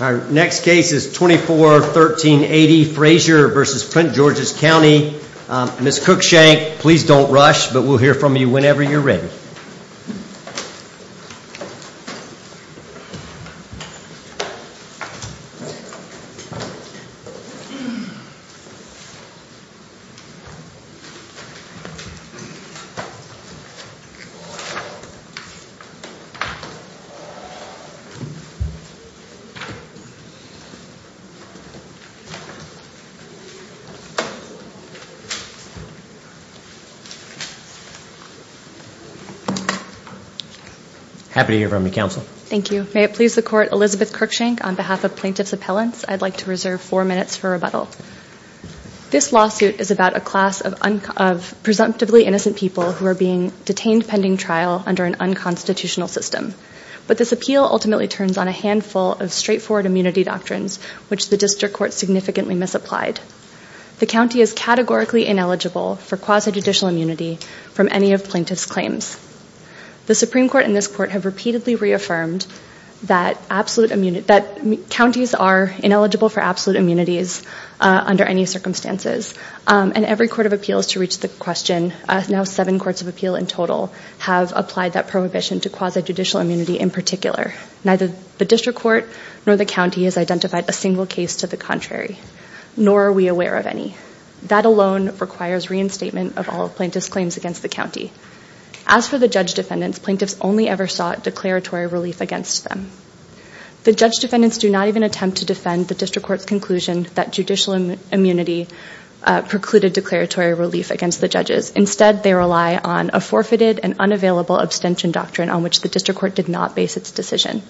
Our next case is 241380 Frazier v. Prince Georges County. Ms. Cookshank, please don't rush, but we'll hear from you whenever you're ready. Ms. Cookshank, please don't rush, but we'll hear from you whenever you're ready. Happy to hear from you, Counsel. Thank you. May it please the Court, Elizabeth Cookshank, on behalf of Plaintiff's Appellants, I'd like to reserve four minutes for rebuttal. This lawsuit is about a class of presumptively innocent people who are being detained pending trial under an unconstitutional system. But this appeal ultimately turns on a handful of straightforward immunity doctrines, which the District Court significantly misapplied. The County is categorically ineligible for quasi-judicial immunity from any of Plaintiff's claims. The Supreme Court and this Court have repeatedly reaffirmed that counties are ineligible for absolute immunities under any circumstances. And every Court of Appeals to reach the question, now seven Courts of Appeal in total, have applied that prohibition to quasi-judicial immunity in particular. Neither the District Court nor the County has identified a single case to the contrary, nor are we aware of any. That alone requires reinstatement of all Plaintiff's claims against the County. As for the judge defendants, Plaintiffs only ever sought declaratory relief against them. The judge defendants do not even attempt to defend the District Court's conclusion that judicial immunity precluded declaratory relief against the judges. Instead, they rely on a forfeited and unavailable abstention doctrine on which the District Court did not base its decision.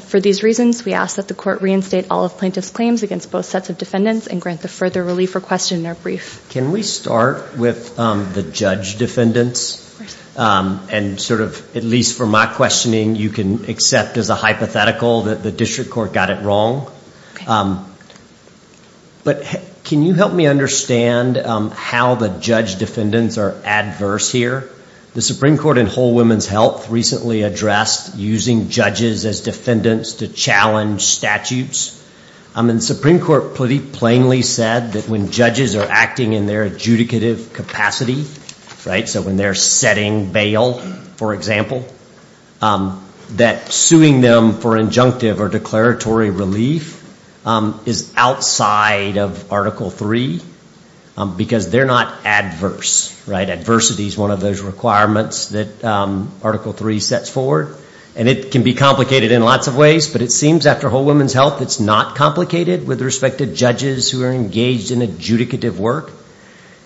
For these reasons, we ask that the Court reinstate all of Plaintiff's claims against both sets of defendants and grant the further relief requested in their brief. Can we start with the judge defendants? And sort of, at least for my questioning, you can accept as a hypothetical that the District Court got it wrong. But can you help me understand how the judge defendants are adverse here? The Supreme Court in Whole Women's Health recently addressed using judges as defendants to challenge statutes. And the Supreme Court plainly said that when judges are acting in their adjudicative capacity, right, so when they're setting bail, for example, that suing them for injunctive or declaratory relief is outside of Article 3 because they're not adverse, right? Adversity is one of those requirements that Article 3 sets forward. And it can be complicated in lots of ways, but it seems after Whole Women's Health it's not complicated with respect to judges who are engaged in adjudicative work.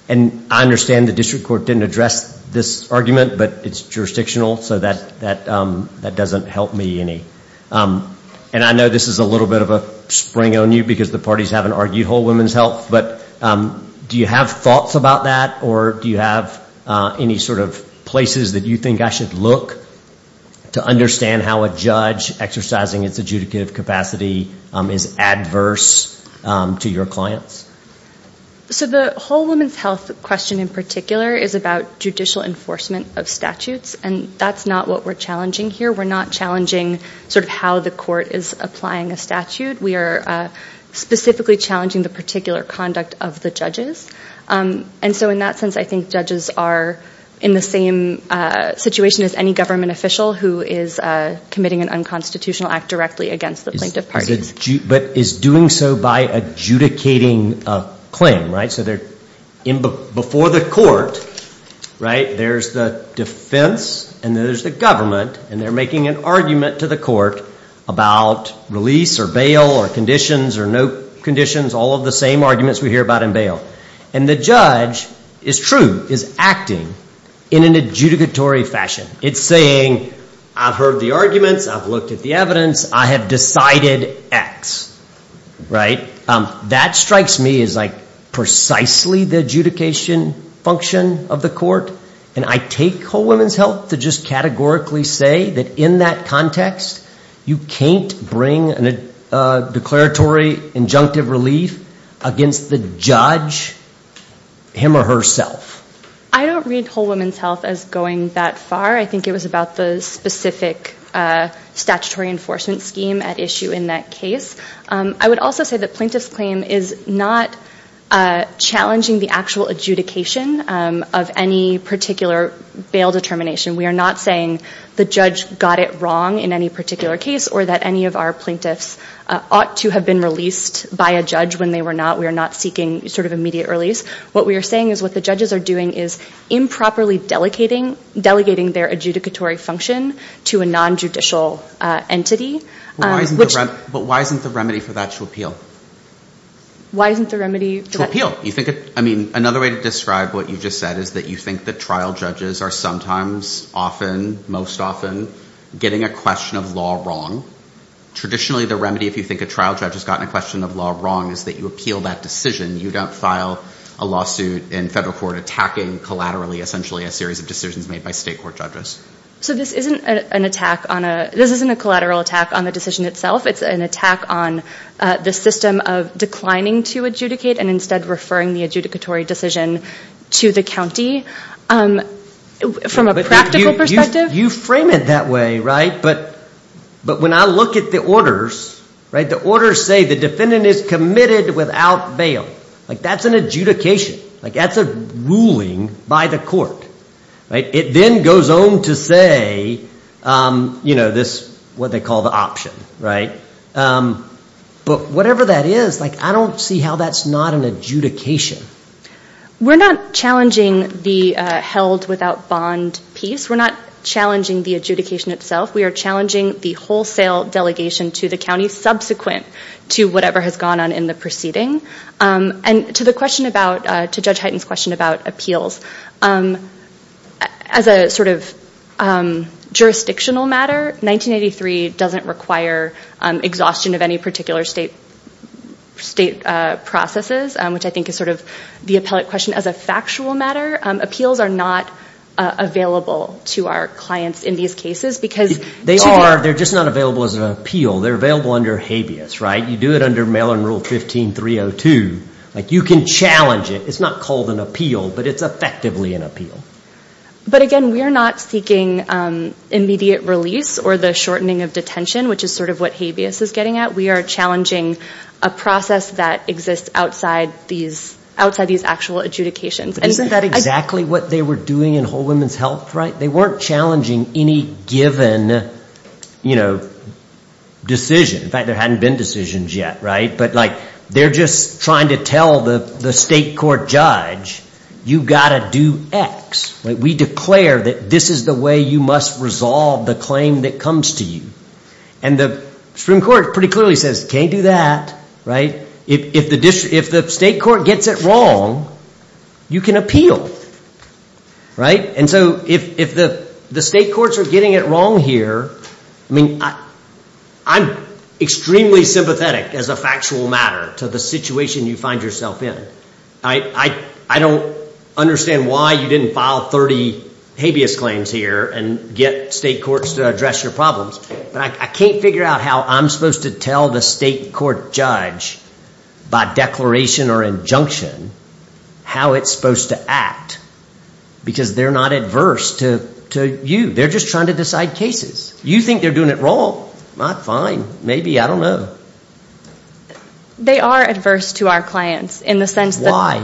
And I understand the District Court didn't address this argument, but it's jurisdictional, so that doesn't help me any. And I know this is a little bit of a spring on you because the parties haven't argued Whole Women's Health, but do you have thoughts about that? Or do you have any sort of places that you think I should look to understand how a judge exercising its adjudicative capacity is adverse to your clients? So the Whole Women's Health question in particular is about judicial enforcement of statutes, and that's not what we're challenging here. We're not challenging sort of how the court is applying a statute. We are specifically challenging the particular conduct of the judges. And so in that sense, I think judges are in the same situation as any government official who is committing an unconstitutional act directly against the plaintiff parties. But is doing so by adjudicating a claim, right? So before the court, right, there's the defense, and then there's the government, and they're making an argument to the court about release or bail. Or conditions or no conditions, all of the same arguments we hear about in bail. And the judge is true, is acting in an adjudicatory fashion. It's saying, I've heard the arguments, I've looked at the evidence, I have decided X, right? That strikes me as like precisely the adjudication function of the court. And I take Whole Women's Health to just categorically say that in that context, you can't bring a declaratory injunctive relief against the judge, him or herself. I don't read Whole Women's Health as going that far. I think it was about the specific statutory enforcement scheme at issue in that case. I would also say that plaintiff's claim is not challenging the actual adjudication of any particular bail determination. We are not saying the judge got it wrong in any particular case or that any of our plaintiffs ought to have been released by a judge when they were not. We are not seeking sort of immediate release. What we are saying is what the judges are doing is improperly delegating their adjudicatory function to a nonjudicial entity. But why isn't the remedy for that to appeal? Another way to describe what you just said is that you think that trial judges are sometimes, often, most often, getting a question of law wrong. Traditionally, the remedy if you think a trial judge has gotten a question of law wrong is that you appeal that decision. You don't file a lawsuit in federal court attacking collaterally essentially a series of decisions made by state court judges. So this isn't a collateral attack on the decision itself. It's an attack on the system of declining to adjudicate and instead referring the adjudicatory decision to the county from a practical perspective? You frame it that way, right? But when I look at the orders, the orders say the defendant is committed without bail. That's an adjudication. That's a ruling by the court. It then goes on to say what they call the option. But whatever that is, I don't see how that's not an adjudication. We're not challenging the held without bond piece. We're not challenging the adjudication itself. We are challenging the wholesale delegation to the county subsequent to whatever has gone on in the proceeding. And to the question about, to Judge Hyten's question about appeals, as a sort of jurisdictional matter, 1983 doesn't require exhaustion of any particular state processes, which I think is sort of the appellate question as a factual matter. Appeals are not available to our clients in these cases because... They are. They're just not available as an appeal. They're available under habeas, right? You do it under mail-in rule 15-302. You can challenge it. It's not called an appeal, but it's effectively an appeal. But again, we are not seeking immediate release or the shortening of detention, which is sort of what habeas is getting at. We are challenging a process that exists outside these actual adjudications. Isn't that exactly what they were doing in Whole Women's Health, right? They weren't challenging any given decision. In fact, there hadn't been decisions yet, right? But they're just trying to tell the state court judge, you've got to do X. We declare that this is the way you must resolve the claim that comes to you. And the Supreme Court pretty clearly says, can't do that, right? If the state court gets it wrong, you can appeal, right? And so if the state courts are getting it wrong here, I mean, I'm extremely sympathetic as a factual matter to the situation you find yourself in. I don't understand why you didn't file 30 habeas claims here and get state courts to address your problems. But I can't figure out how I'm supposed to tell the state court judge by declaration or injunction how it's supposed to act. Because they're not adverse to you. They're just trying to decide cases. You think they're doing it wrong. Not fine. Maybe. I don't know. They are adverse to our clients in the sense that... Why?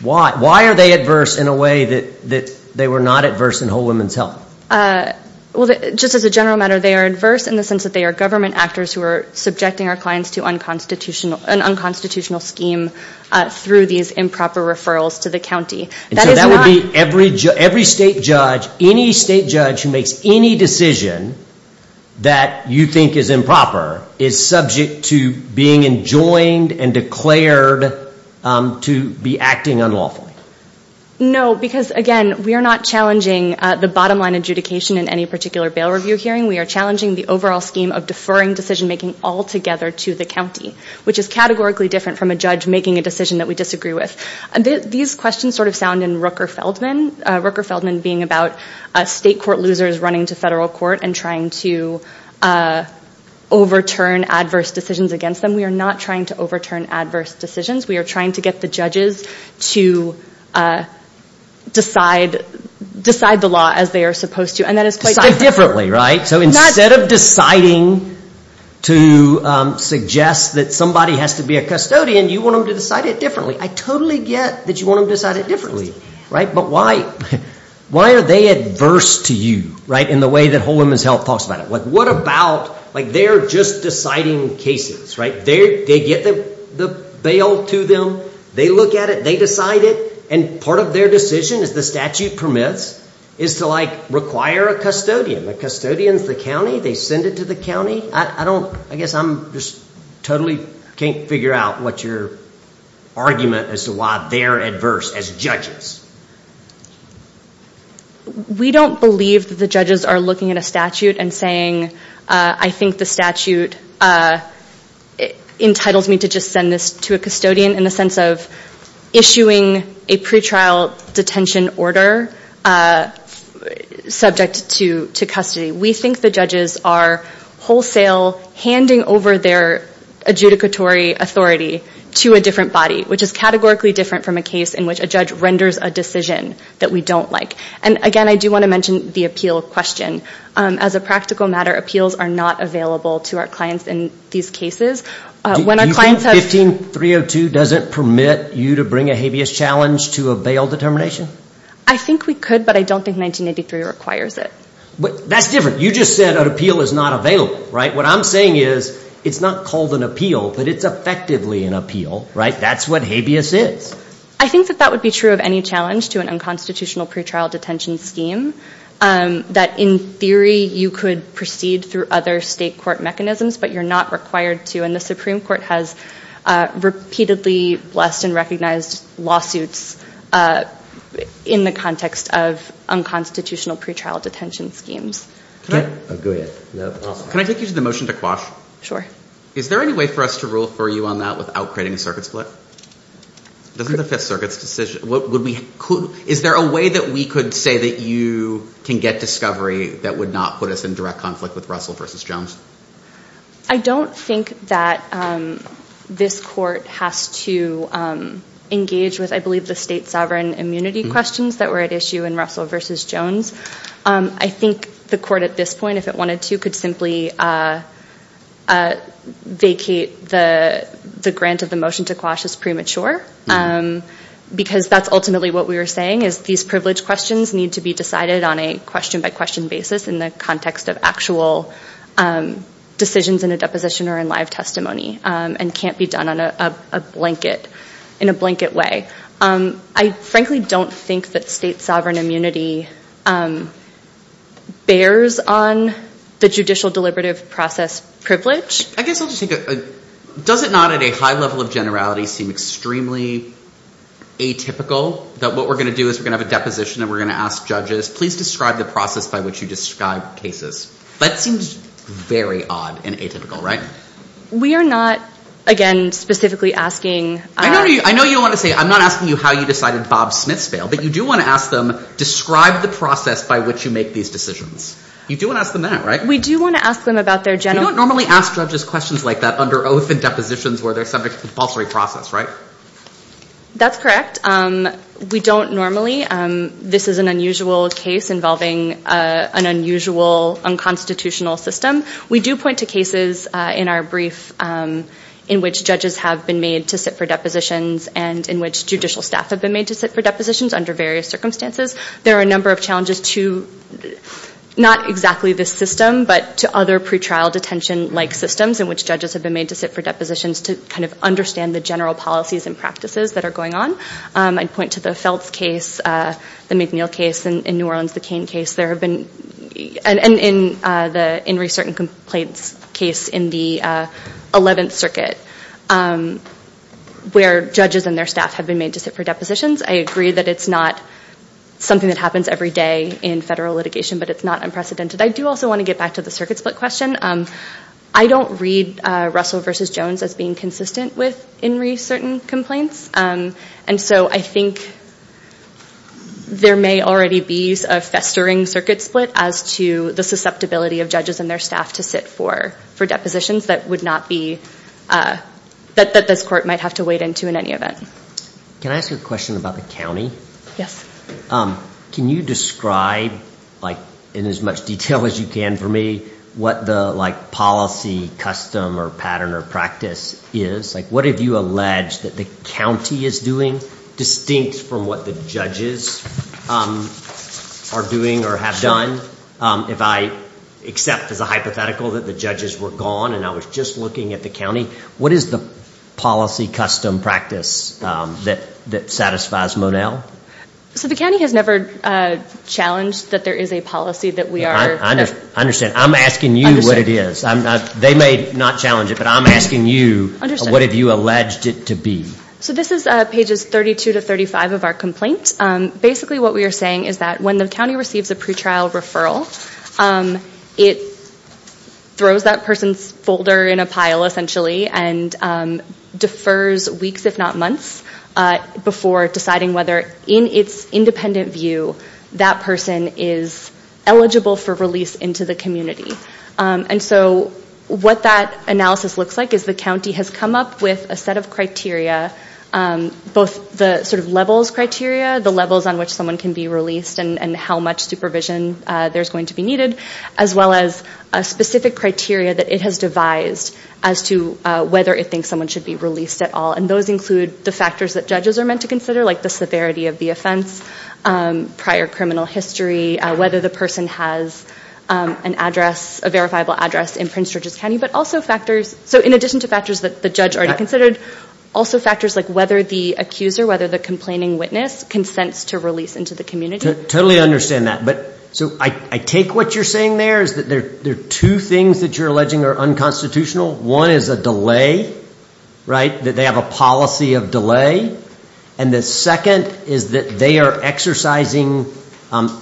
Why? Why are they adverse in a way that they were not adverse in Whole Women's Health? Well, just as a general matter, they are adverse in the sense that they are government actors who are subjecting our clients to an unconstitutional scheme through these improper referrals to the county. And so that would be every state judge, any state judge who makes any decision that you think is improper, is subject to being enjoined and declared to be acting unlawfully? No. Because, again, we are not challenging the bottom line adjudication in any particular bail review hearing. We are challenging the overall scheme of deferring decision-making altogether to the county, which is categorically different from a judge making a decision that we disagree with. These questions sort of sound in Rooker-Feldman, Rooker-Feldman being about state court losers running to federal court and trying to overturn adverse decisions against them. We are not trying to overturn adverse decisions. We are trying to get the judges to decide the law as they are supposed to. Decide differently, right? So instead of deciding to suggest that somebody has to be a custodian, you want them to decide it differently. I totally get that you want them to decide it differently. But why are they adverse to you in the way that Whole Women's Health talks about it? They are just deciding cases, right? They get the bail to them, they look at it, they decide it, and part of their decision, as the statute permits, is to require a custodian. A custodian is the county, they send it to the county. I guess I just totally can't figure out what your argument is as to why they are adverse as judges. We don't believe that the judges are looking at a statute and saying, I think the statute entitles me to just send this to a custodian in the sense of issuing a pretrial detention order subject to custody. We think the judges are wholesale handing over their adjudicatory authority to a different body, which is categorically different from a case in which a judge renders a judgment. I think that's a decision that we don't like. Again, I do want to mention the appeal question. As a practical matter, appeals are not available to our clients in these cases. Do you think 15302 doesn't permit you to bring a habeas challenge to a bail determination? I think we could, but I don't think 1983 requires it. That's different. You just said an appeal is not available. What I'm saying is, it's not called an appeal, but it's effectively an appeal. That's what habeas is. I think that that would be true of any challenge to an unconstitutional pretrial detention scheme, that in theory you could proceed through other state court mechanisms, but you're not required to. And the Supreme Court has repeatedly blessed and recognized lawsuits in the context of unconstitutional pretrial detention schemes. Can I take you to the motion to quash? Is there any way for us to rule for you on that without creating a circuit split? Is there a way that we could say that you can get discovery that would not put us in direct conflict with Russell v. Jones? I don't think that this court has to engage with, I believe, the state sovereign immunity questions that were at issue in Russell v. Jones. I think the court at this point, if it wanted to, could simply vacate the grant of the motion to quash as premature, because that's ultimately what we were saying, is these privileged questions need to be decided on a question-by-question basis in the context of actual decisions in a deposition or in live testimony, and can't be done in a blanket way. I frankly don't think that state sovereign immunity bears on the judicial deliberative process privilege. I guess I'll just say, does it not at a high level of generality seem extremely atypical that what we're going to do is we're going to have a deposition and we're going to ask judges, please describe the process by which you describe cases? That seems very odd and atypical, right? We are not, again, specifically asking... I know you don't want to say, I'm not asking you how you decided Bob Smith's fail, but you do want to ask them, describe the process by which you make these decisions. You do want to ask them that, right? We do want to ask them about their general... We do want to point to cases in our brief in which judges have been made to sit for depositions and in which judicial staff have been made to sit for depositions under various circumstances. There are a number of challenges to not exactly this system, but to other pretrial detention-like systems in which judges have been made to sit for depositions to kind of understand the general policies and practices that are going on. I'd point to the Feltz case, the McNeil case in New Orleans, the Cain case, and the Inree Certain Complaints case in the 11th Circuit where judges and their staff have been made to sit for depositions. I agree that it's not something that happens every day in federal litigation, but it's not unprecedented. I do also want to get back to the circuit split question. I don't read Russell v. Jones as being consistent with Inree Certain Complaints. I think there may already be a festering circuit split as to the susceptibility of judges and their staff to sit for depositions that this court might have to wade into in any event. Can I ask a question about the county? Can you describe in as much detail as you can for me what the policy, custom, pattern, or practice is? What have you alleged that the county is doing distinct from what the judges are doing or have done? If I accept as a hypothetical that the judges were gone and I was just looking at the county, what is the policy, custom, practice that satisfies Monell? The county has never challenged that there is a policy that we are... I understand. I'm asking you what it is. They may not challenge it, but I'm asking you what have you alleged it to be? This is pages 32 to 35 of our complaint. Basically what we are saying is that when the county receives a pretrial referral, it throws that person's folder in a pile, essentially, and defers weeks, if not months, before deciding whether, in its independent view, that person is eligible for release into the county. And so what that analysis looks like is the county has come up with a set of criteria, both the levels criteria, the levels on which someone can be released and how much supervision there is going to be needed, as well as a specific criteria that it has devised as to whether it thinks someone should be released at all. And those include the factors that judges are meant to consider, like the severity of the offense, prior criminal history, whether the person has an address, a verifiable address in Prince George's County, but also factors... So in addition to factors that the judge already considered, also factors like whether the accuser, whether the complaining witness consents to release into the community. Totally understand that. So I take what you're saying there is that there are two things that you're alleging are unconstitutional. One is a delay, right, that they have a policy of delay. And the second is that they are exercising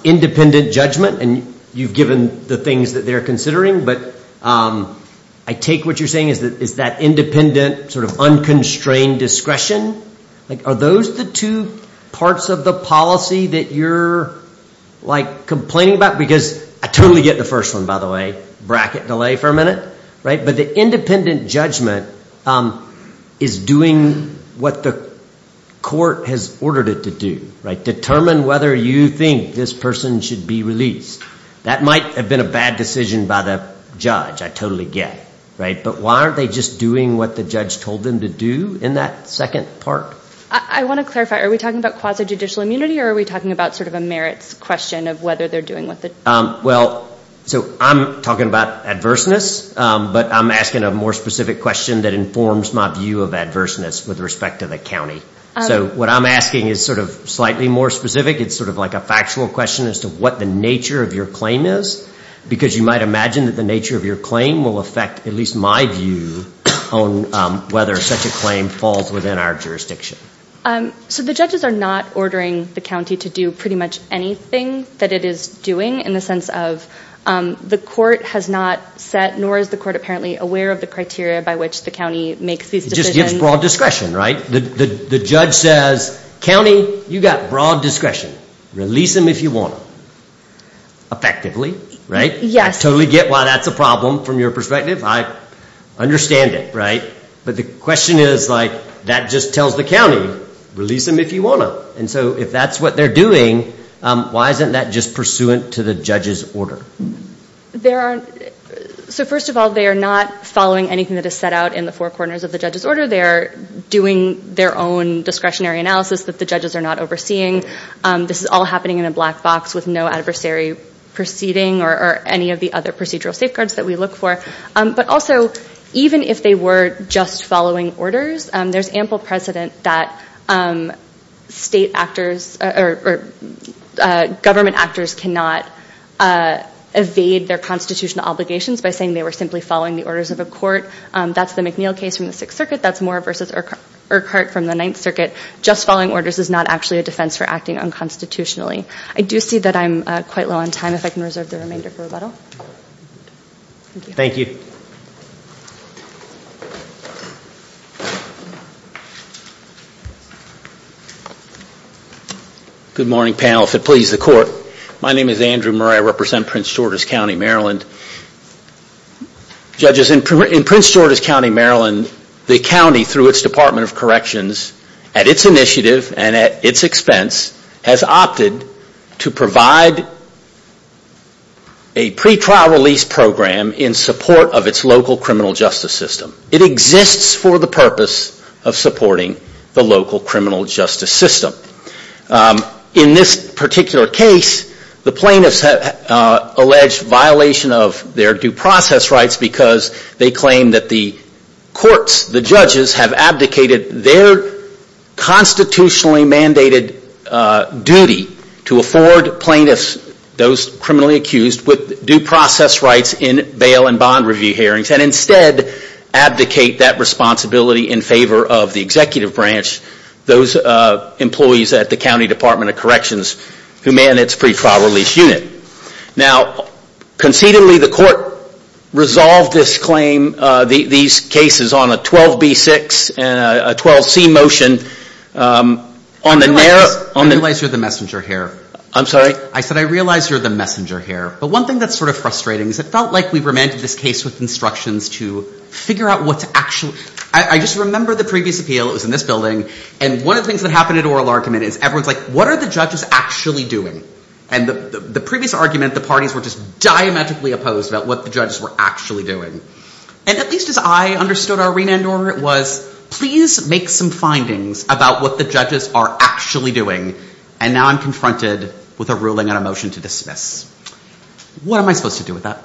independent judgment, and you've given the things that they're considering. But I take what you're saying is that it's that independent, sort of unconstrained discretion. Are those the two parts of the policy that you're, like, complaining about? Because I totally get the first one, by the way. Bracket delay for a minute. But the independent judgment is doing what the court has ordered it to do. Determine whether you think this person should be released. That might have been a bad decision by the judge, I totally get. But why aren't they just doing what the judge told them to do in that second part? I want to clarify. Are we talking about quasi-judicial immunity, or are we talking about sort of a merits question of whether they're doing what the... Well, so I'm talking about adverseness, but I'm asking a more specific question that informs my view of adverseness with respect to the county. So what I'm asking is sort of slightly more specific. It's sort of like a factual question as to what the nature of your claim is. Because you might imagine that the nature of your claim will affect at least my view on whether such a claim falls within our jurisdiction. So the judges are not ordering the county to do pretty much anything that it is doing, in the sense of the court has not set, nor is the court apparently aware of the criteria by which the county makes these decisions? It just gives broad discretion, right? The judge says, county, you've got broad discretion. Release him if you want him. Effectively, right? I totally get why that's a problem from your perspective. I understand it, right? But the question is, like, that just tells the county, release him if you want him. And so if that's what they're doing, why isn't that just pursuant to the judge's order? So first of all, they are not following anything that is set out in the four corners of the judge's order. They are doing their own discretionary analysis that the judges are not overseeing. This is all happening in a black box with no adversary proceeding or any of the other procedural safeguards that we look for. But also, even if they were just following orders, there's ample precedent that state actors or government actors cannot evade their constitutional obligations by saying they were simply following the orders of a court. That's the McNeil case from the Sixth Circuit. That's Moore v. Urquhart from the Ninth Circuit. Just following orders is not actually a defense for acting unconstitutionally. I do see that I'm quite low on time, if I can reserve the remainder for rebuttal. Thank you. Good morning, panel, if it please the Court. My name is Andrew Murray. I represent Prince George's County, Maryland. Judges, in Prince George's County, Maryland, the county, through its Department of Corrections, at its initiative and at its expense, has opted to provide a pretrial release program in support of its local criminal justice system. It exists for the purpose of supporting the local criminal justice system. In this particular case, the plaintiffs have alleged violation of their due process rights because they claim that the courts, the judges, have abdicated their constitutionally mandated duty to afford plaintiffs, those criminally accused, due process rights in bail and bond review hearings and instead abdicate that responsibility in favor of the executive branch, those employees at the County Department of Corrections who man its pretrial release unit. Now, concededly, the Court resolved this claim, these cases, on a 12B6 and a 12C motion. I realize you're the messenger here. I'm sorry? I said I realize you're the messenger here, but one thing that's sort of frustrating is it felt like we remanded this case with instructions to figure out what's actually... I just remember the previous appeal, it was in this building, and one of the things that happened at oral argument is everyone's like, okay, we're going to do this. And the previous argument, the parties were just diametrically opposed about what the judges were actually doing. And at least as I understood our remand order, it was, please make some findings about what the judges are actually doing. And now I'm confronted with a ruling on a motion to dismiss. What am I supposed to do with that?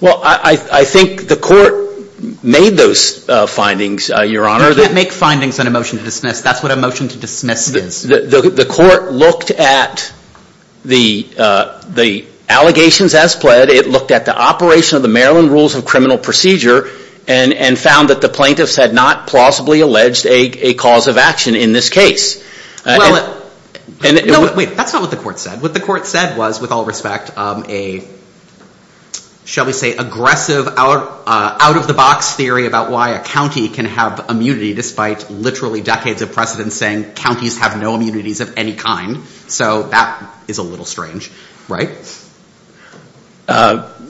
Well, I think the Court made those findings, Your Honor. You can't make findings on a motion to dismiss. That's what a motion to dismiss is. The Court looked at the allegations as pled, it looked at the operation of the Maryland Rules of Criminal Procedure, and found that the plaintiffs had not plausibly alleged a cause of action in this case. Well, wait, that's not what the Court said. What the Court said was, with all respect, a, shall we say, aggressive out-of-the-box theory about why a county can have immunity despite literally decades of precedents saying counties have no immunities of any kind. So that is a little strange, right?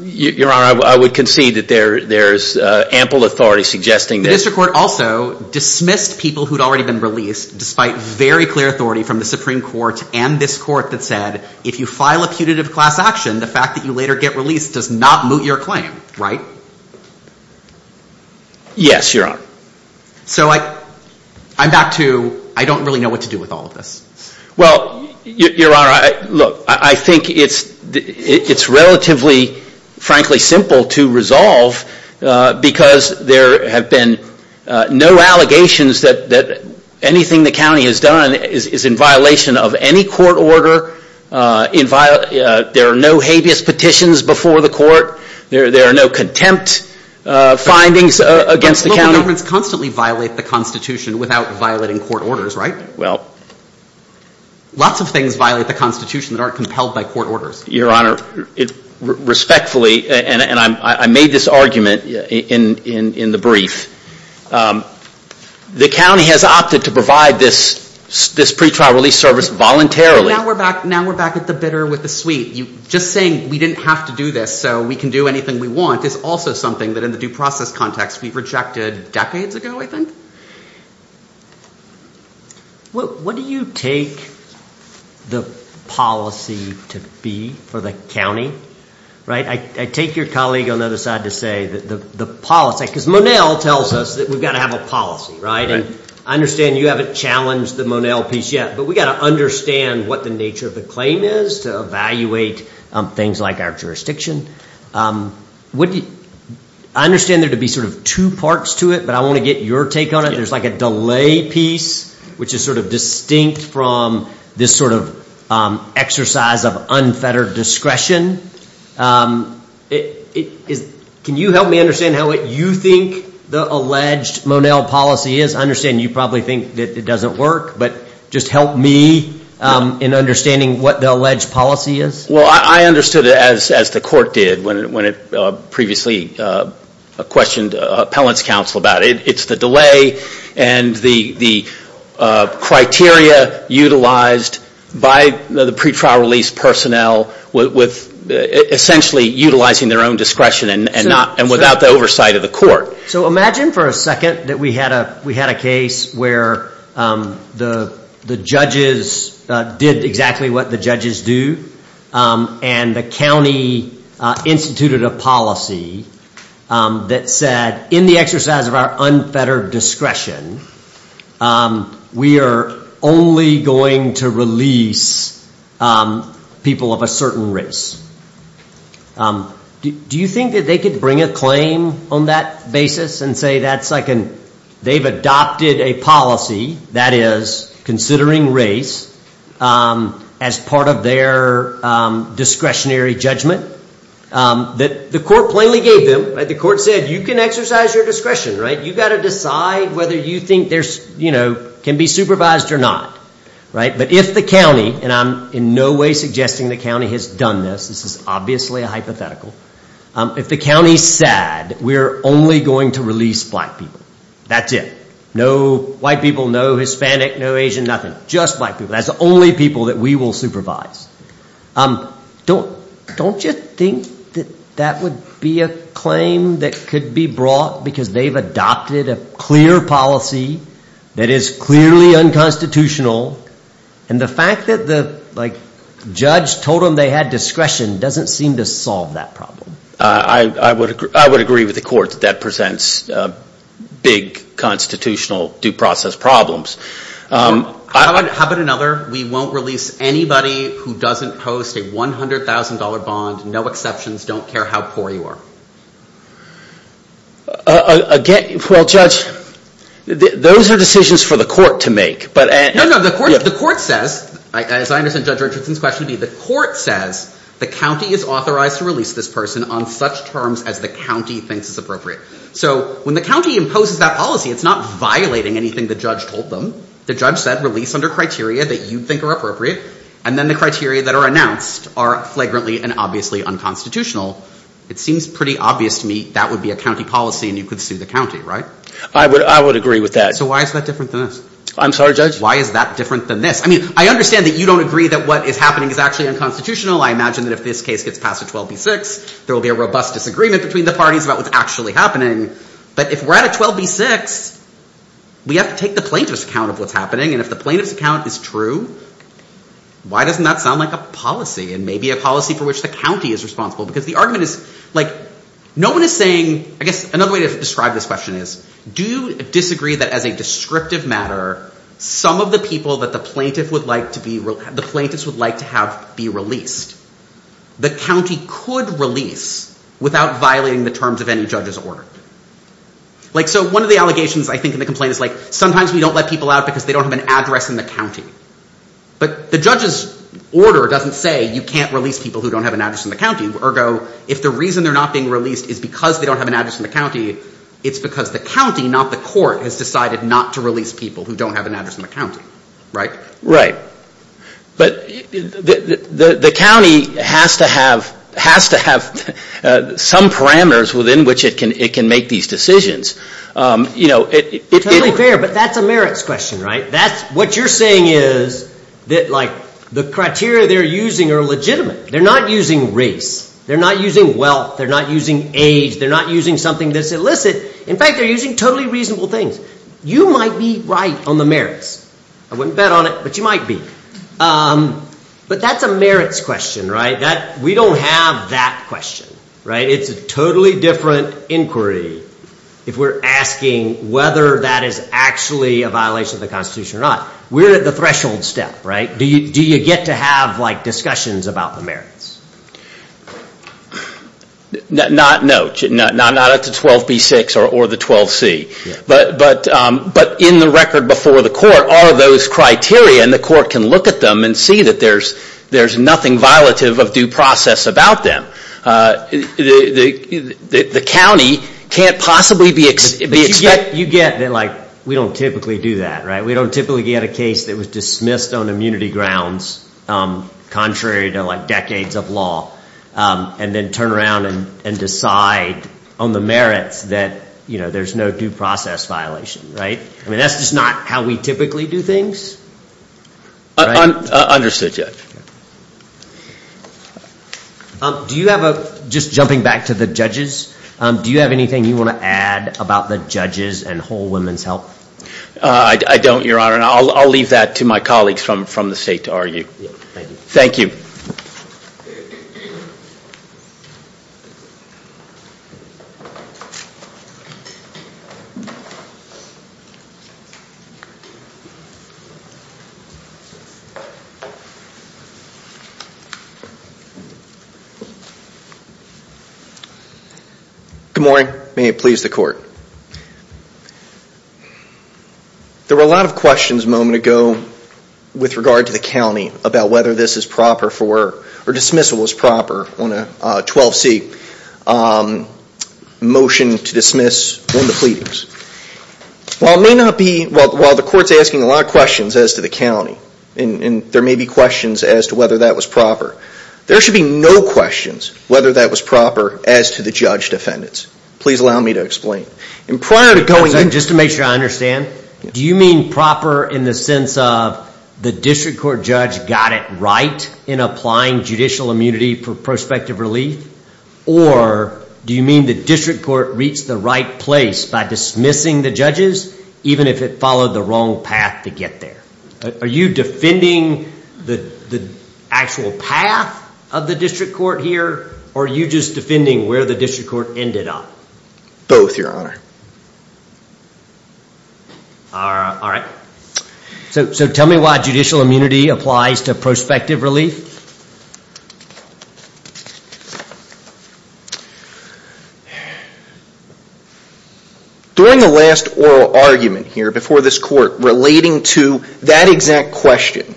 Your Honor, I would concede that there's ample authority suggesting that... The District Court also dismissed people who'd already been released, despite very clear authority from the Supreme Court and this Court that said, if you file a putative class action, the fact that you later get released does not moot your claim, right? Yes, Your Honor. So I'm back to, I don't really know what to do with all of this. Well, Your Honor, look, I think it's relatively, frankly, simple to resolve, because there have been no allegations that anything the county has done is in violation of any court order. There are no habeas petitions before the court. There are no contempt findings against the county. Governments constantly violate the Constitution without violating court orders, right? Lots of things violate the Constitution that aren't compelled by court orders. Your Honor, respectfully, and I made this argument in the brief, the county has opted to provide this pretrial release service voluntarily. Now we're back at the bitter with the sweet. Just saying we didn't have to do this so we can do anything we want is also something that, in the due process context, we rejected decades ago, I think. Well, what do you take the policy to be for the county, right? I take your colleague on the other side to say that the policy... Because Monell tells us that we've got to have a policy, right? I understand you haven't challenged the Monell piece yet, but we've got to understand what the nature of the claim is to evaluate things like our jurisdiction. I understand there to be sort of two parts to it, but I want to get your take on it. There's like a delay piece, which is sort of distinct from this sort of exercise of unfettered discretion. Can you help me understand what you think the alleged Monell policy is? I understand you probably think that it doesn't work, but just help me in understanding what the alleged policy is. Well, I understood it as the court did when it previously questioned appellant's counsel about it. It's the delay and the criteria utilized by the pretrial release personnel with essentially utilizing their own discretion and without the oversight of the court. So imagine for a second that we had a case where the judges did exactly what the judges do and the county instituted a policy that said in the exercise of our unfettered discretion we are only going to release people of a certain race. Do you think that they could bring a claim on that basis and say they've adopted a policy that is considering race as part of their discretionary judgment? The court plainly gave them. The court said you can exercise your discretion. But if the county, and I'm in no way suggesting the county has done this, this is obviously a hypothetical. If the county is sad, we are only going to release black people. That's it. No white people, no Hispanic, no Asian, nothing. Just black people. That's the only people that we will supervise. Don't you think that that would be a claim that could be brought because they've adopted a clear policy that is clearly unconstitutional and the fact that the judge told them they had discretion doesn't seem to solve that problem? I would agree with the court that that presents big constitutional due process problems. How about another, we won't release anybody who doesn't post a $100,000 bond, no exceptions, don't care how poor you are? Those are decisions for the court to make. No, no, the court says, as I understand Judge Richardson's question to be, the court says the county is authorized to release this person on such terms as the county thinks is appropriate. So when the county imposes that policy, it's not violating anything the judge told them. The judge said release under criteria that you think are appropriate and then the criteria that are announced are flagrantly and obviously unconstitutional. It seems pretty obvious to me that would be a county policy and you could sue the county, right? I would agree with that. So why is that different than this? Why doesn't that take the plaintiff's account of what's happening and if the plaintiff's account is true, why doesn't that sound like a policy and maybe a policy for which the county is responsible? Because the argument is, no one is saying, I guess another way to describe this question is, do you disagree that as a descriptive matter, some of the people that the plaintiffs would like to have be released? The county could release without violating the terms of any judge's order. So one of the allegations I think in the complaint is sometimes we don't let people out because they don't have an address in the county. But the judge's order doesn't say you can't release people who don't have an address in the county. Ergo, if the reason they're not being released is because they don't have an address in the county, it's because the county, not the court, has decided not to release people who don't have an address in the county, right? Right. But the county has to have some parameters within which it can make these decisions. Totally fair, but that's a merits question, right? What you're saying is that the criteria they're using are legitimate. They're not using race. They're not using wealth. They're not using age. They're not using something that's illicit. In fact, they're using totally reasonable things. You might be right on the merits. I wouldn't bet on it, but you might be. But that's a merits question, right? We don't have that question, right? It's a totally different inquiry if we're asking whether that is actually a violation of the Constitution or not. We're at the threshold step, right? Do you get to have discussions about the merits? Not at the 12B6 or the 12C. But in the record before the court, there are those criteria and the court can look at them and see that there's nothing violative of due process about them. The county can't possibly be expected You get that we don't typically do that, right? We don't typically get a case that was dismissed on immunity grounds contrary to decades of law and then turn around and decide on the merits that there's no due process violation, right? I mean, that's just not how we typically do things. Understood, Judge. Just jumping back to the judges, do you have anything you want to add about the judges and whole women's health? I don't, Your Honor, and I'll leave that to my colleagues from the state to argue. Thank you. Good morning. May it please the Court. There were a lot of questions a moment ago with regard to the county about whether this is proper for, or dismissal was proper on a 12C motion to dismiss on the pleadings. While it may not be, while the court's asking a lot of questions as to the county, and there may be questions as to whether that was proper, there should be no questions whether that was proper as to the judge defendants. Please allow me to explain. Just to make sure I understand, do you mean proper in the sense of the district court judge got it right in applying judicial immunity for prospective relief, or do you mean the district court reached the right place by dismissing the judges, even if it followed the wrong path to get there? Are you defending the actual path of the district court here, or are you just defending where the district court ended up? Both, Your Honor. Alright. So tell me why judicial immunity applies to prospective relief. During the last oral argument here before this court, relating to that exact question,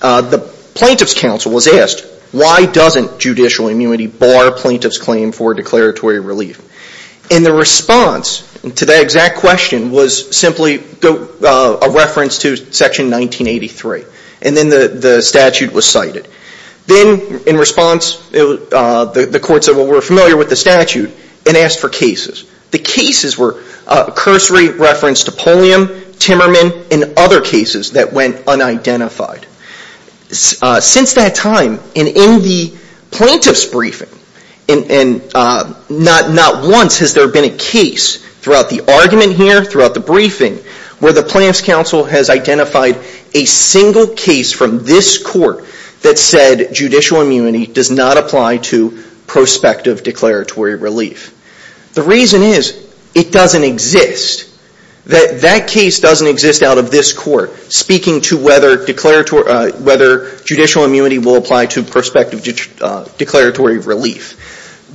the plaintiff's counsel was asked, why doesn't judicial immunity bar plaintiff's claim for declaratory relief? And the response to that exact question was simply a reference to Section 1983. And then the statute was cited. Then in response, the courts were familiar with the statute and asked for cases. The cases were cursory reference to Pulliam, Timmerman, and other cases that went unidentified. Since that time, and in the plaintiff's briefing, and not once has there been a case throughout the argument here, throughout the briefing, where the plaintiff's counsel has identified a single case from this court that said judicial immunity does not apply to prospective declaratory relief. The reason is, it doesn't exist. That case doesn't exist out of this court, speaking to whether judicial immunity will apply to prospective declaratory relief.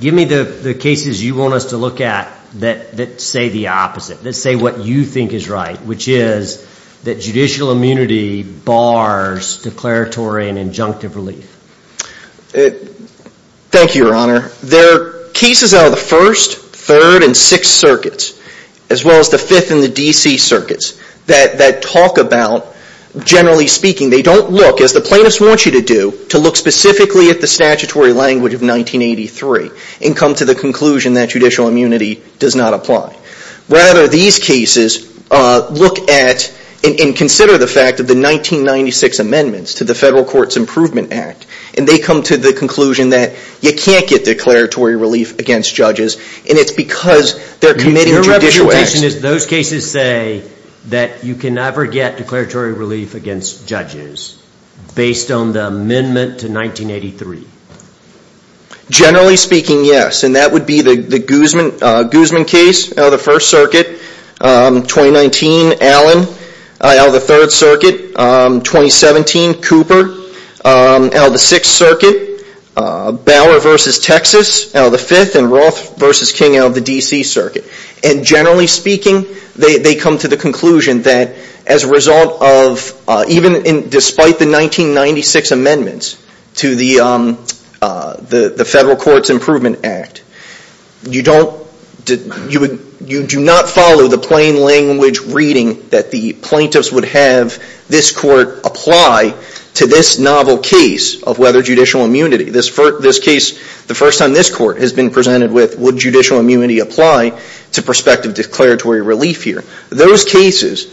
Give me the cases you want us to look at that say the opposite, that say what you think is right, which is that judicial immunity bars declaratory and injunctive relief. Thank you, Your Honor. There are cases out of the 1st, 3rd, and 6th circuits, as well as the 5th and the D.C. circuits, that talk about, generally speaking, they don't look, as the plaintiffs want you to do, to look specifically at the statutory language of 1983, and come to the conclusion that judicial immunity does not apply. Rather, these cases look at, and consider the fact that the 1996 amendments to the Federal Courts Improvement Act, and they come to the conclusion that you can't get declaratory relief against judges, and it's because they're committing judicial acts. And those cases say that you can never get declaratory relief against judges, based on the amendment to 1983? Generally speaking, yes. And that would be the Guzman case, out of the 1st circuit, 2019, Allen, out of the 3rd circuit, 2017, Cooper, out of the 6th circuit, Bower v. Texas, out of the 5th, and Roth v. King, out of the D.C. circuit. And generally speaking, they come to the conclusion that, as a result of, even despite the 1996 amendments to the Federal Courts Improvement Act, you do not follow the plain language reading that the plaintiffs would have this court apply to this novel case of whether judicial immunity, this case, the first time this court has been presented with, would judicial immunity apply to prospective declaratory relief here? Those cases,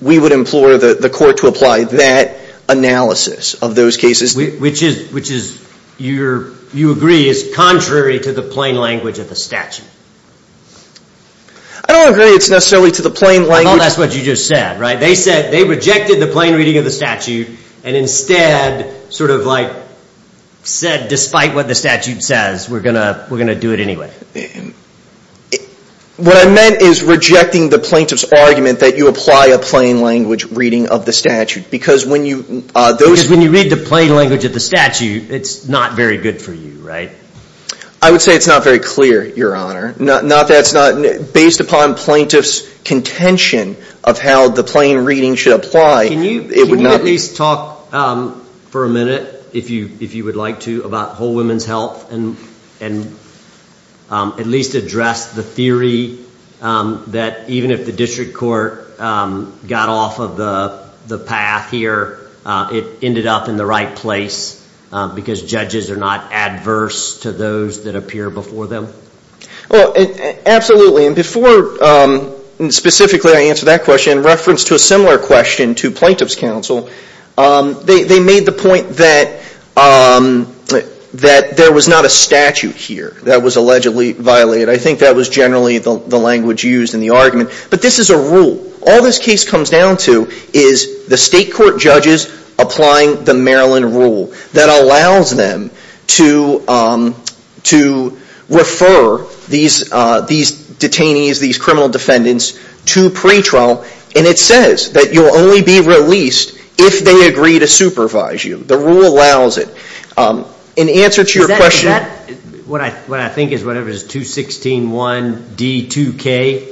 we would implore the court to apply that analysis of those cases. Which is, you agree, is contrary to the plain language of the statute? I don't agree it's necessarily to the plain language. I thought that's what you just said. They rejected the plain reading of the statute, and instead said, despite what the statute says, we're going to do it anyway. What I meant is rejecting the plaintiff's argument that you apply a plain language reading of the statute. Because when you read the plain language of the statute, it's not very good for you, right? I would say it's not very clear, Your Honor. Based upon plaintiff's contention of how the plain reading should apply, it would not be. Can you at least talk for a minute, if you would like to, about whole women's health, and at least address the theory that even if the district court got off of the path here, it ended up in the right place, because judges are not adverse to those that appear before them? Absolutely. And before specifically I answer that question, in reference to a similar question to plaintiff's counsel, they made the point that there was not a statute here that was allegedly violated. I think that was generally the language used in the argument. But this is a rule. All this case comes down to is the state court judges applying the Maryland rule that allows them to refer these detainees, these criminal defendants, to pretrial. And it says that you'll only be released if they agree to supervise you. The rule allows it. In answer to your question... Is that what I think is 216.1.D.2.K.?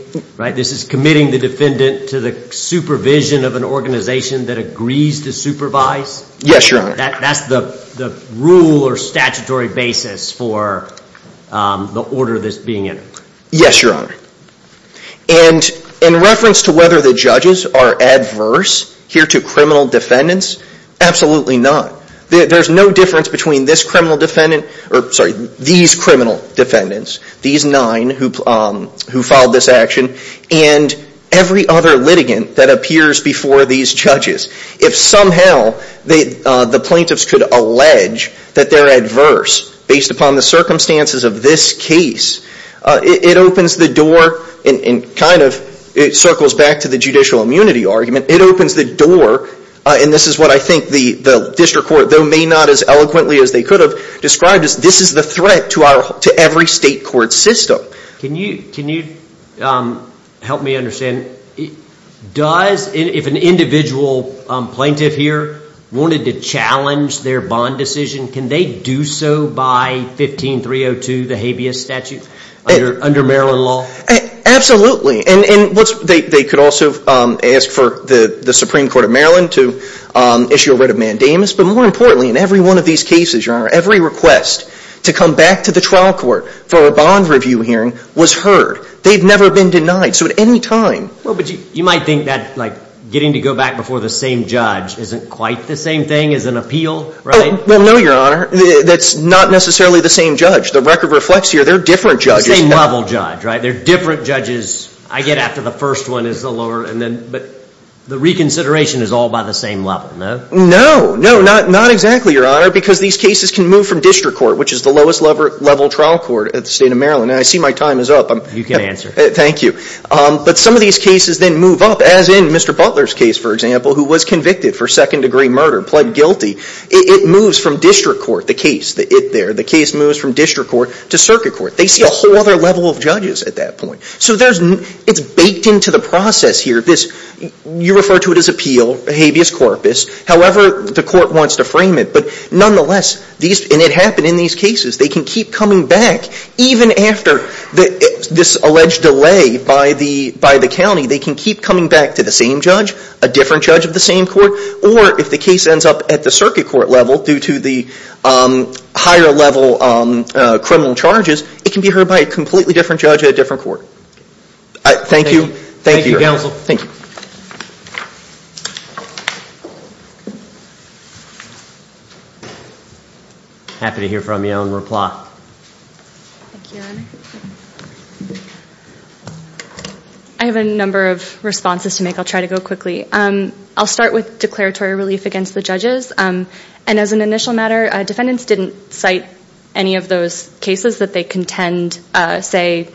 This is committing the defendant to the supervision of an organization that agrees to supervise? Yes, Your Honor. That's the rule or statutory basis for the order that's being entered? Yes, Your Honor. And in reference to whether the judges are adverse here to criminal defendants, absolutely not. There's no difference between these criminal defendants, these nine who filed this action, and every other litigant that appears before these judges. If somehow the plaintiffs could allege that they're adverse based upon the circumstances of this case, it opens the door and kind of circles back to the judicial immunity argument. It opens the door, and this is what I think the district court, though may not as eloquently as they could have, described as this is the threat to every state court system. Can you help me understand? If an individual plaintiff here wanted to challenge their bond decision, can they do so by 15302, the habeas statute under Maryland law? Absolutely. And they could also ask for the Supreme Court of Maryland to issue a writ of mandamus. But more importantly, in every one of these cases, Your Honor, every request to come back to the trial court for a bond review hearing was heard. They've never been denied. So at any time— Well, but you might think that getting to go back before the same judge isn't quite the same thing as an appeal, right? Well, no, Your Honor. That's not necessarily the same judge. The record reflects here there are different judges. The same level judge, right? There are different judges. I get after the first one is the lower, but the reconsideration is all by the same level, no? No. No, not exactly, Your Honor, because these cases can move from district court, which is the lowest level trial court at the state of Maryland. And I see my time is up. You can answer. Thank you. But some of these cases then move up, as in Mr. Butler's case, for example, who was convicted for second degree murder, pled guilty. It moves from district court, the case there. The case moves from district court to circuit court. They see a whole other level of judges at that point. So it's baked into the process here. You refer to it as appeal, habeas corpus. However, the court wants to frame it. But nonetheless, and it happened in these cases, they can keep coming back. Even after this alleged delay by the county, they can keep coming back to the same judge, a different judge of the same court. Or if the case ends up at the circuit court level due to the higher level criminal charges, it can be heard by a completely different judge at a different court. Thank you. Thank you, counsel. Thank you. Happy to hear from you and reply. Thank you, Your Honor. I have a number of responses to make. I'll try to go quickly. I'll start with declaratory relief against the judges. And as an initial matter, defendants didn't cite any of those cases that they contend, say,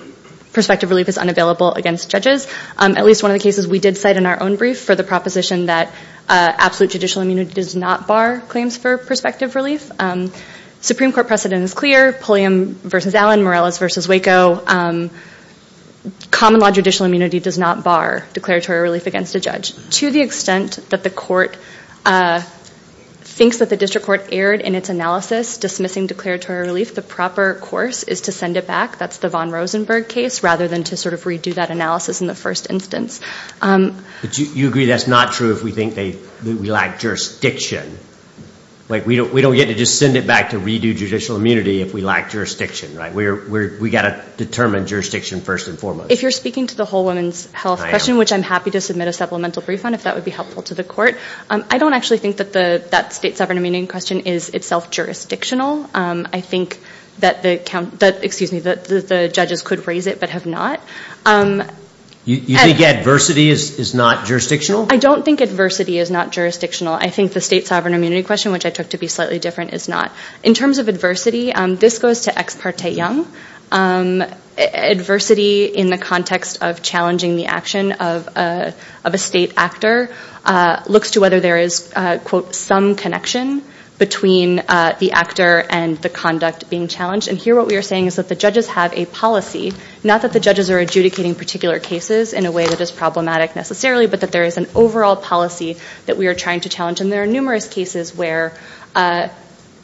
prospective relief is unavailable against judges. At least one of the cases we did cite in our own brief for the proposition that absolute judicial immunity does not bar claims for prospective relief. Supreme Court precedent is clear. Pulliam v. Allen, Morales v. Waco, common law judicial immunity does not bar declaratory relief against a judge. To the extent that the court thinks that the district court erred in its analysis dismissing declaratory relief, the proper course is to send it back. That's the Von Rosenberg case, rather than to sort of redo that analysis in the first instance. But you agree that's not true if we think we lack jurisdiction. We don't get to just send it back to redo judicial immunity if we lack jurisdiction. We've got to determine jurisdiction first and foremost. If you're speaking to the whole women's health question, which I'm happy to submit a supplemental brief on if that would be helpful to the court, I don't actually think that that state sovereign immunity question is itself jurisdictional. I think that the judges could raise it but have not. You think adversity is not jurisdictional? I don't think adversity is not jurisdictional. I think the state sovereign immunity question, which I took to be slightly different, is not. In terms of adversity, this goes to Ex parte Young. Adversity in the context of challenging the action of a state actor looks to whether there is, quote, some connection between the actor and the conduct being challenged. And here what we are saying is that the judges have a policy, not that the judges are adjudicating particular cases in a way that is problematic necessarily, but that there is an overall policy that we are trying to challenge. And there are numerous cases where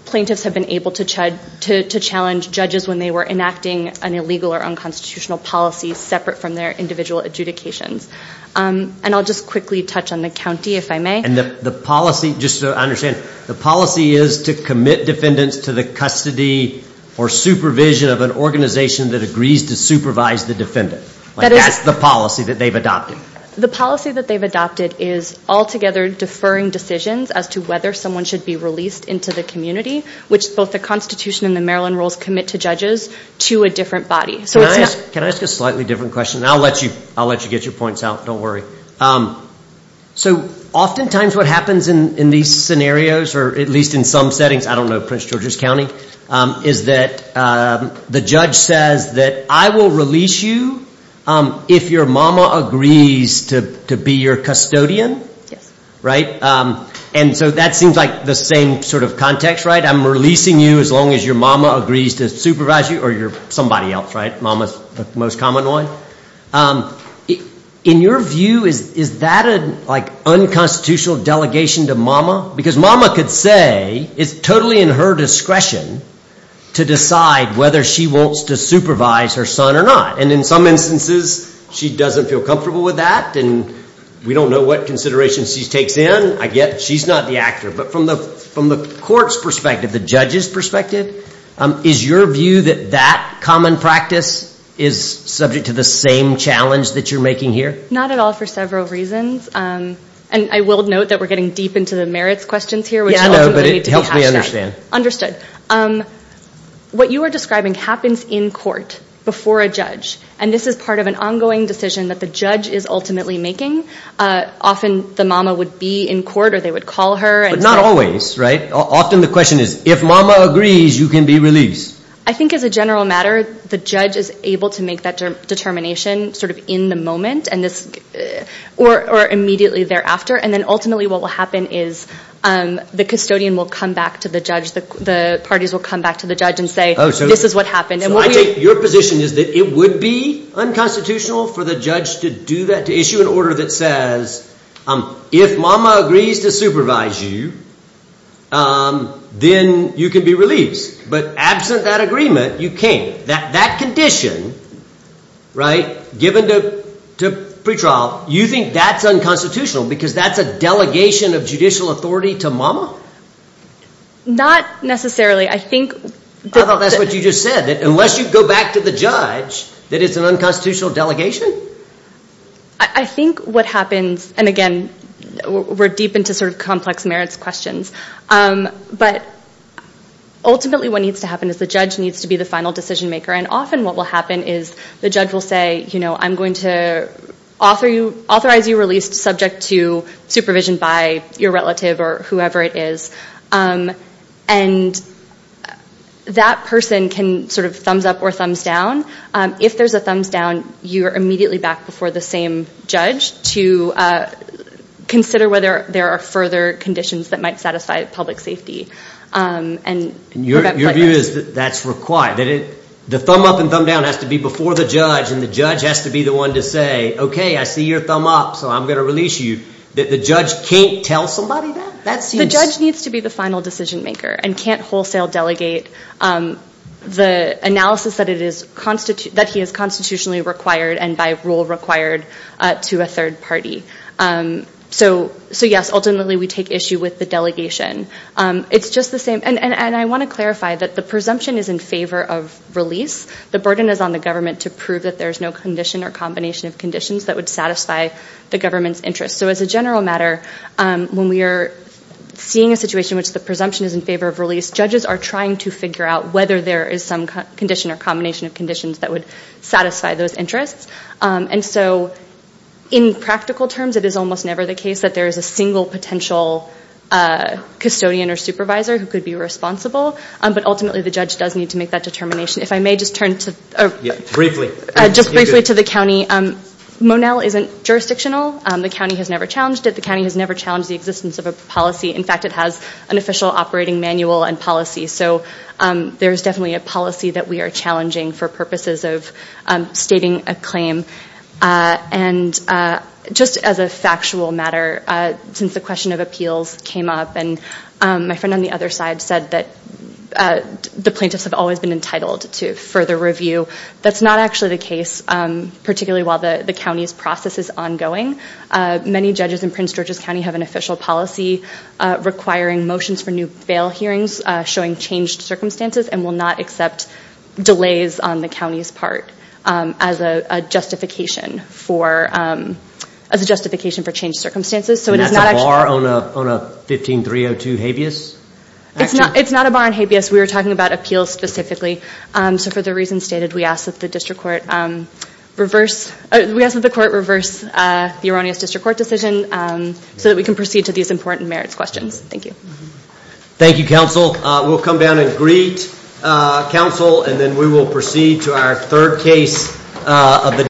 plaintiffs have been able to challenge judges when they were enacting an illegal or unconstitutional policy separate from their individual adjudications. And I'll just quickly touch on the county, if I may. And the policy, just so I understand, the policy is to commit defendants to the custody or supervision of an organization that agrees to supervise the defendant. That's the policy that they've adopted. The policy that they've adopted is altogether deferring decisions as to whether someone should be released into the community, which both the Constitution and the Maryland rules commit to judges, to a different body. Can I ask a slightly different question? I'll let you get your points out. Don't worry. So oftentimes what happens in these scenarios, or at least in some settings, I don't know, Prince George's County, is that the judge says that I will release you if your mama agrees to be your custodian. Yes. Right? And so that seems like the same sort of context, right? I'm releasing you as long as your mama agrees to supervise you or somebody else, right? Mama is the most common one. In your view, is that an unconstitutional delegation to mama? Because mama could say it's totally in her discretion to decide whether she wants to supervise her son or not. And in some instances she doesn't feel comfortable with that, and we don't know what considerations she takes in. She's not the actor. But from the court's perspective, the judge's perspective, is your view that that common practice is subject to the same challenge that you're making here? Not at all for several reasons. And I will note that we're getting deep into the merits questions here. Yeah, I know, but it helps me understand. What you are describing happens in court before a judge, and this is part of an ongoing decision that the judge is ultimately making. Often the mama would be in court or they would call her. But not always, right? Often the question is, if mama agrees, you can be released. I think as a general matter, the judge is able to make that determination sort of in the moment, or immediately thereafter. And then ultimately what will happen is the custodian will come back to the judge, the parties will come back to the judge and say, this is what happened. So I take your position is that it would be unconstitutional for the judge to do that, to issue an order that says, if mama agrees to supervise you, then you can be released. But absent that agreement, you can't. That condition, right, given to pretrial, you think that's unconstitutional because that's a delegation of judicial authority to mama? Not necessarily. I thought that's what you just said, that unless you go back to the judge, that it's an unconstitutional delegation? I think what happens, and again, we're deep into sort of complex merits questions, but ultimately what needs to happen is the judge needs to be the final decision maker. And often what will happen is the judge will say, you know, I'm going to authorize you released subject to supervision by your relative or whoever it is. And that person can sort of thumbs up or thumbs down. If there's a thumbs down, you're immediately back before the same judge to consider whether there are further conditions that might satisfy public safety. Your view is that that's required? The thumb up and thumb down has to be before the judge, and the judge has to be the one to say, okay, I see your thumb up, so I'm going to release you. The judge can't tell somebody that? The judge needs to be the final decision maker and can't wholesale delegate the analysis that he is constitutionally required and by rule required to a third party. So, yes, ultimately we take issue with the delegation. It's just the same, and I want to clarify that the presumption is in favor of release. The burden is on the government to prove that there is no condition or combination of conditions that would satisfy the government's interest. So as a general matter, when we are seeing a situation which the presumption is in favor of release, judges are trying to figure out whether there is some condition or combination of conditions that would satisfy those interests. And so in practical terms, it is almost never the case that there is a single potential custodian or supervisor who could be responsible, but ultimately the judge does need to make that determination. If I may just turn to the county. Monell isn't jurisdictional. The county has never challenged it. The county has never challenged the existence of a policy. In fact, it has an official operating manual and policy. So there is definitely a policy that we are challenging for purposes of stating a claim. And just as a factual matter, since the question of appeals came up and my friend on the other side said that the plaintiffs have always been entitled to further review, that's not actually the case, particularly while the county's process is ongoing. Many judges in Prince George's County have an official policy requiring motions for new bail hearings showing changed circumstances and will not accept delays on the county's part as a justification for changed circumstances. And that's a bar on a 15-302 habeas action? It's not a bar on habeas. We were talking about appeals specifically. So for the reasons stated, we ask that the court reverse the erroneous district court decision so that we can proceed to these important merits questions. Thank you. Thank you, counsel. We'll come down and greet counsel and then we will proceed to our third case of the day.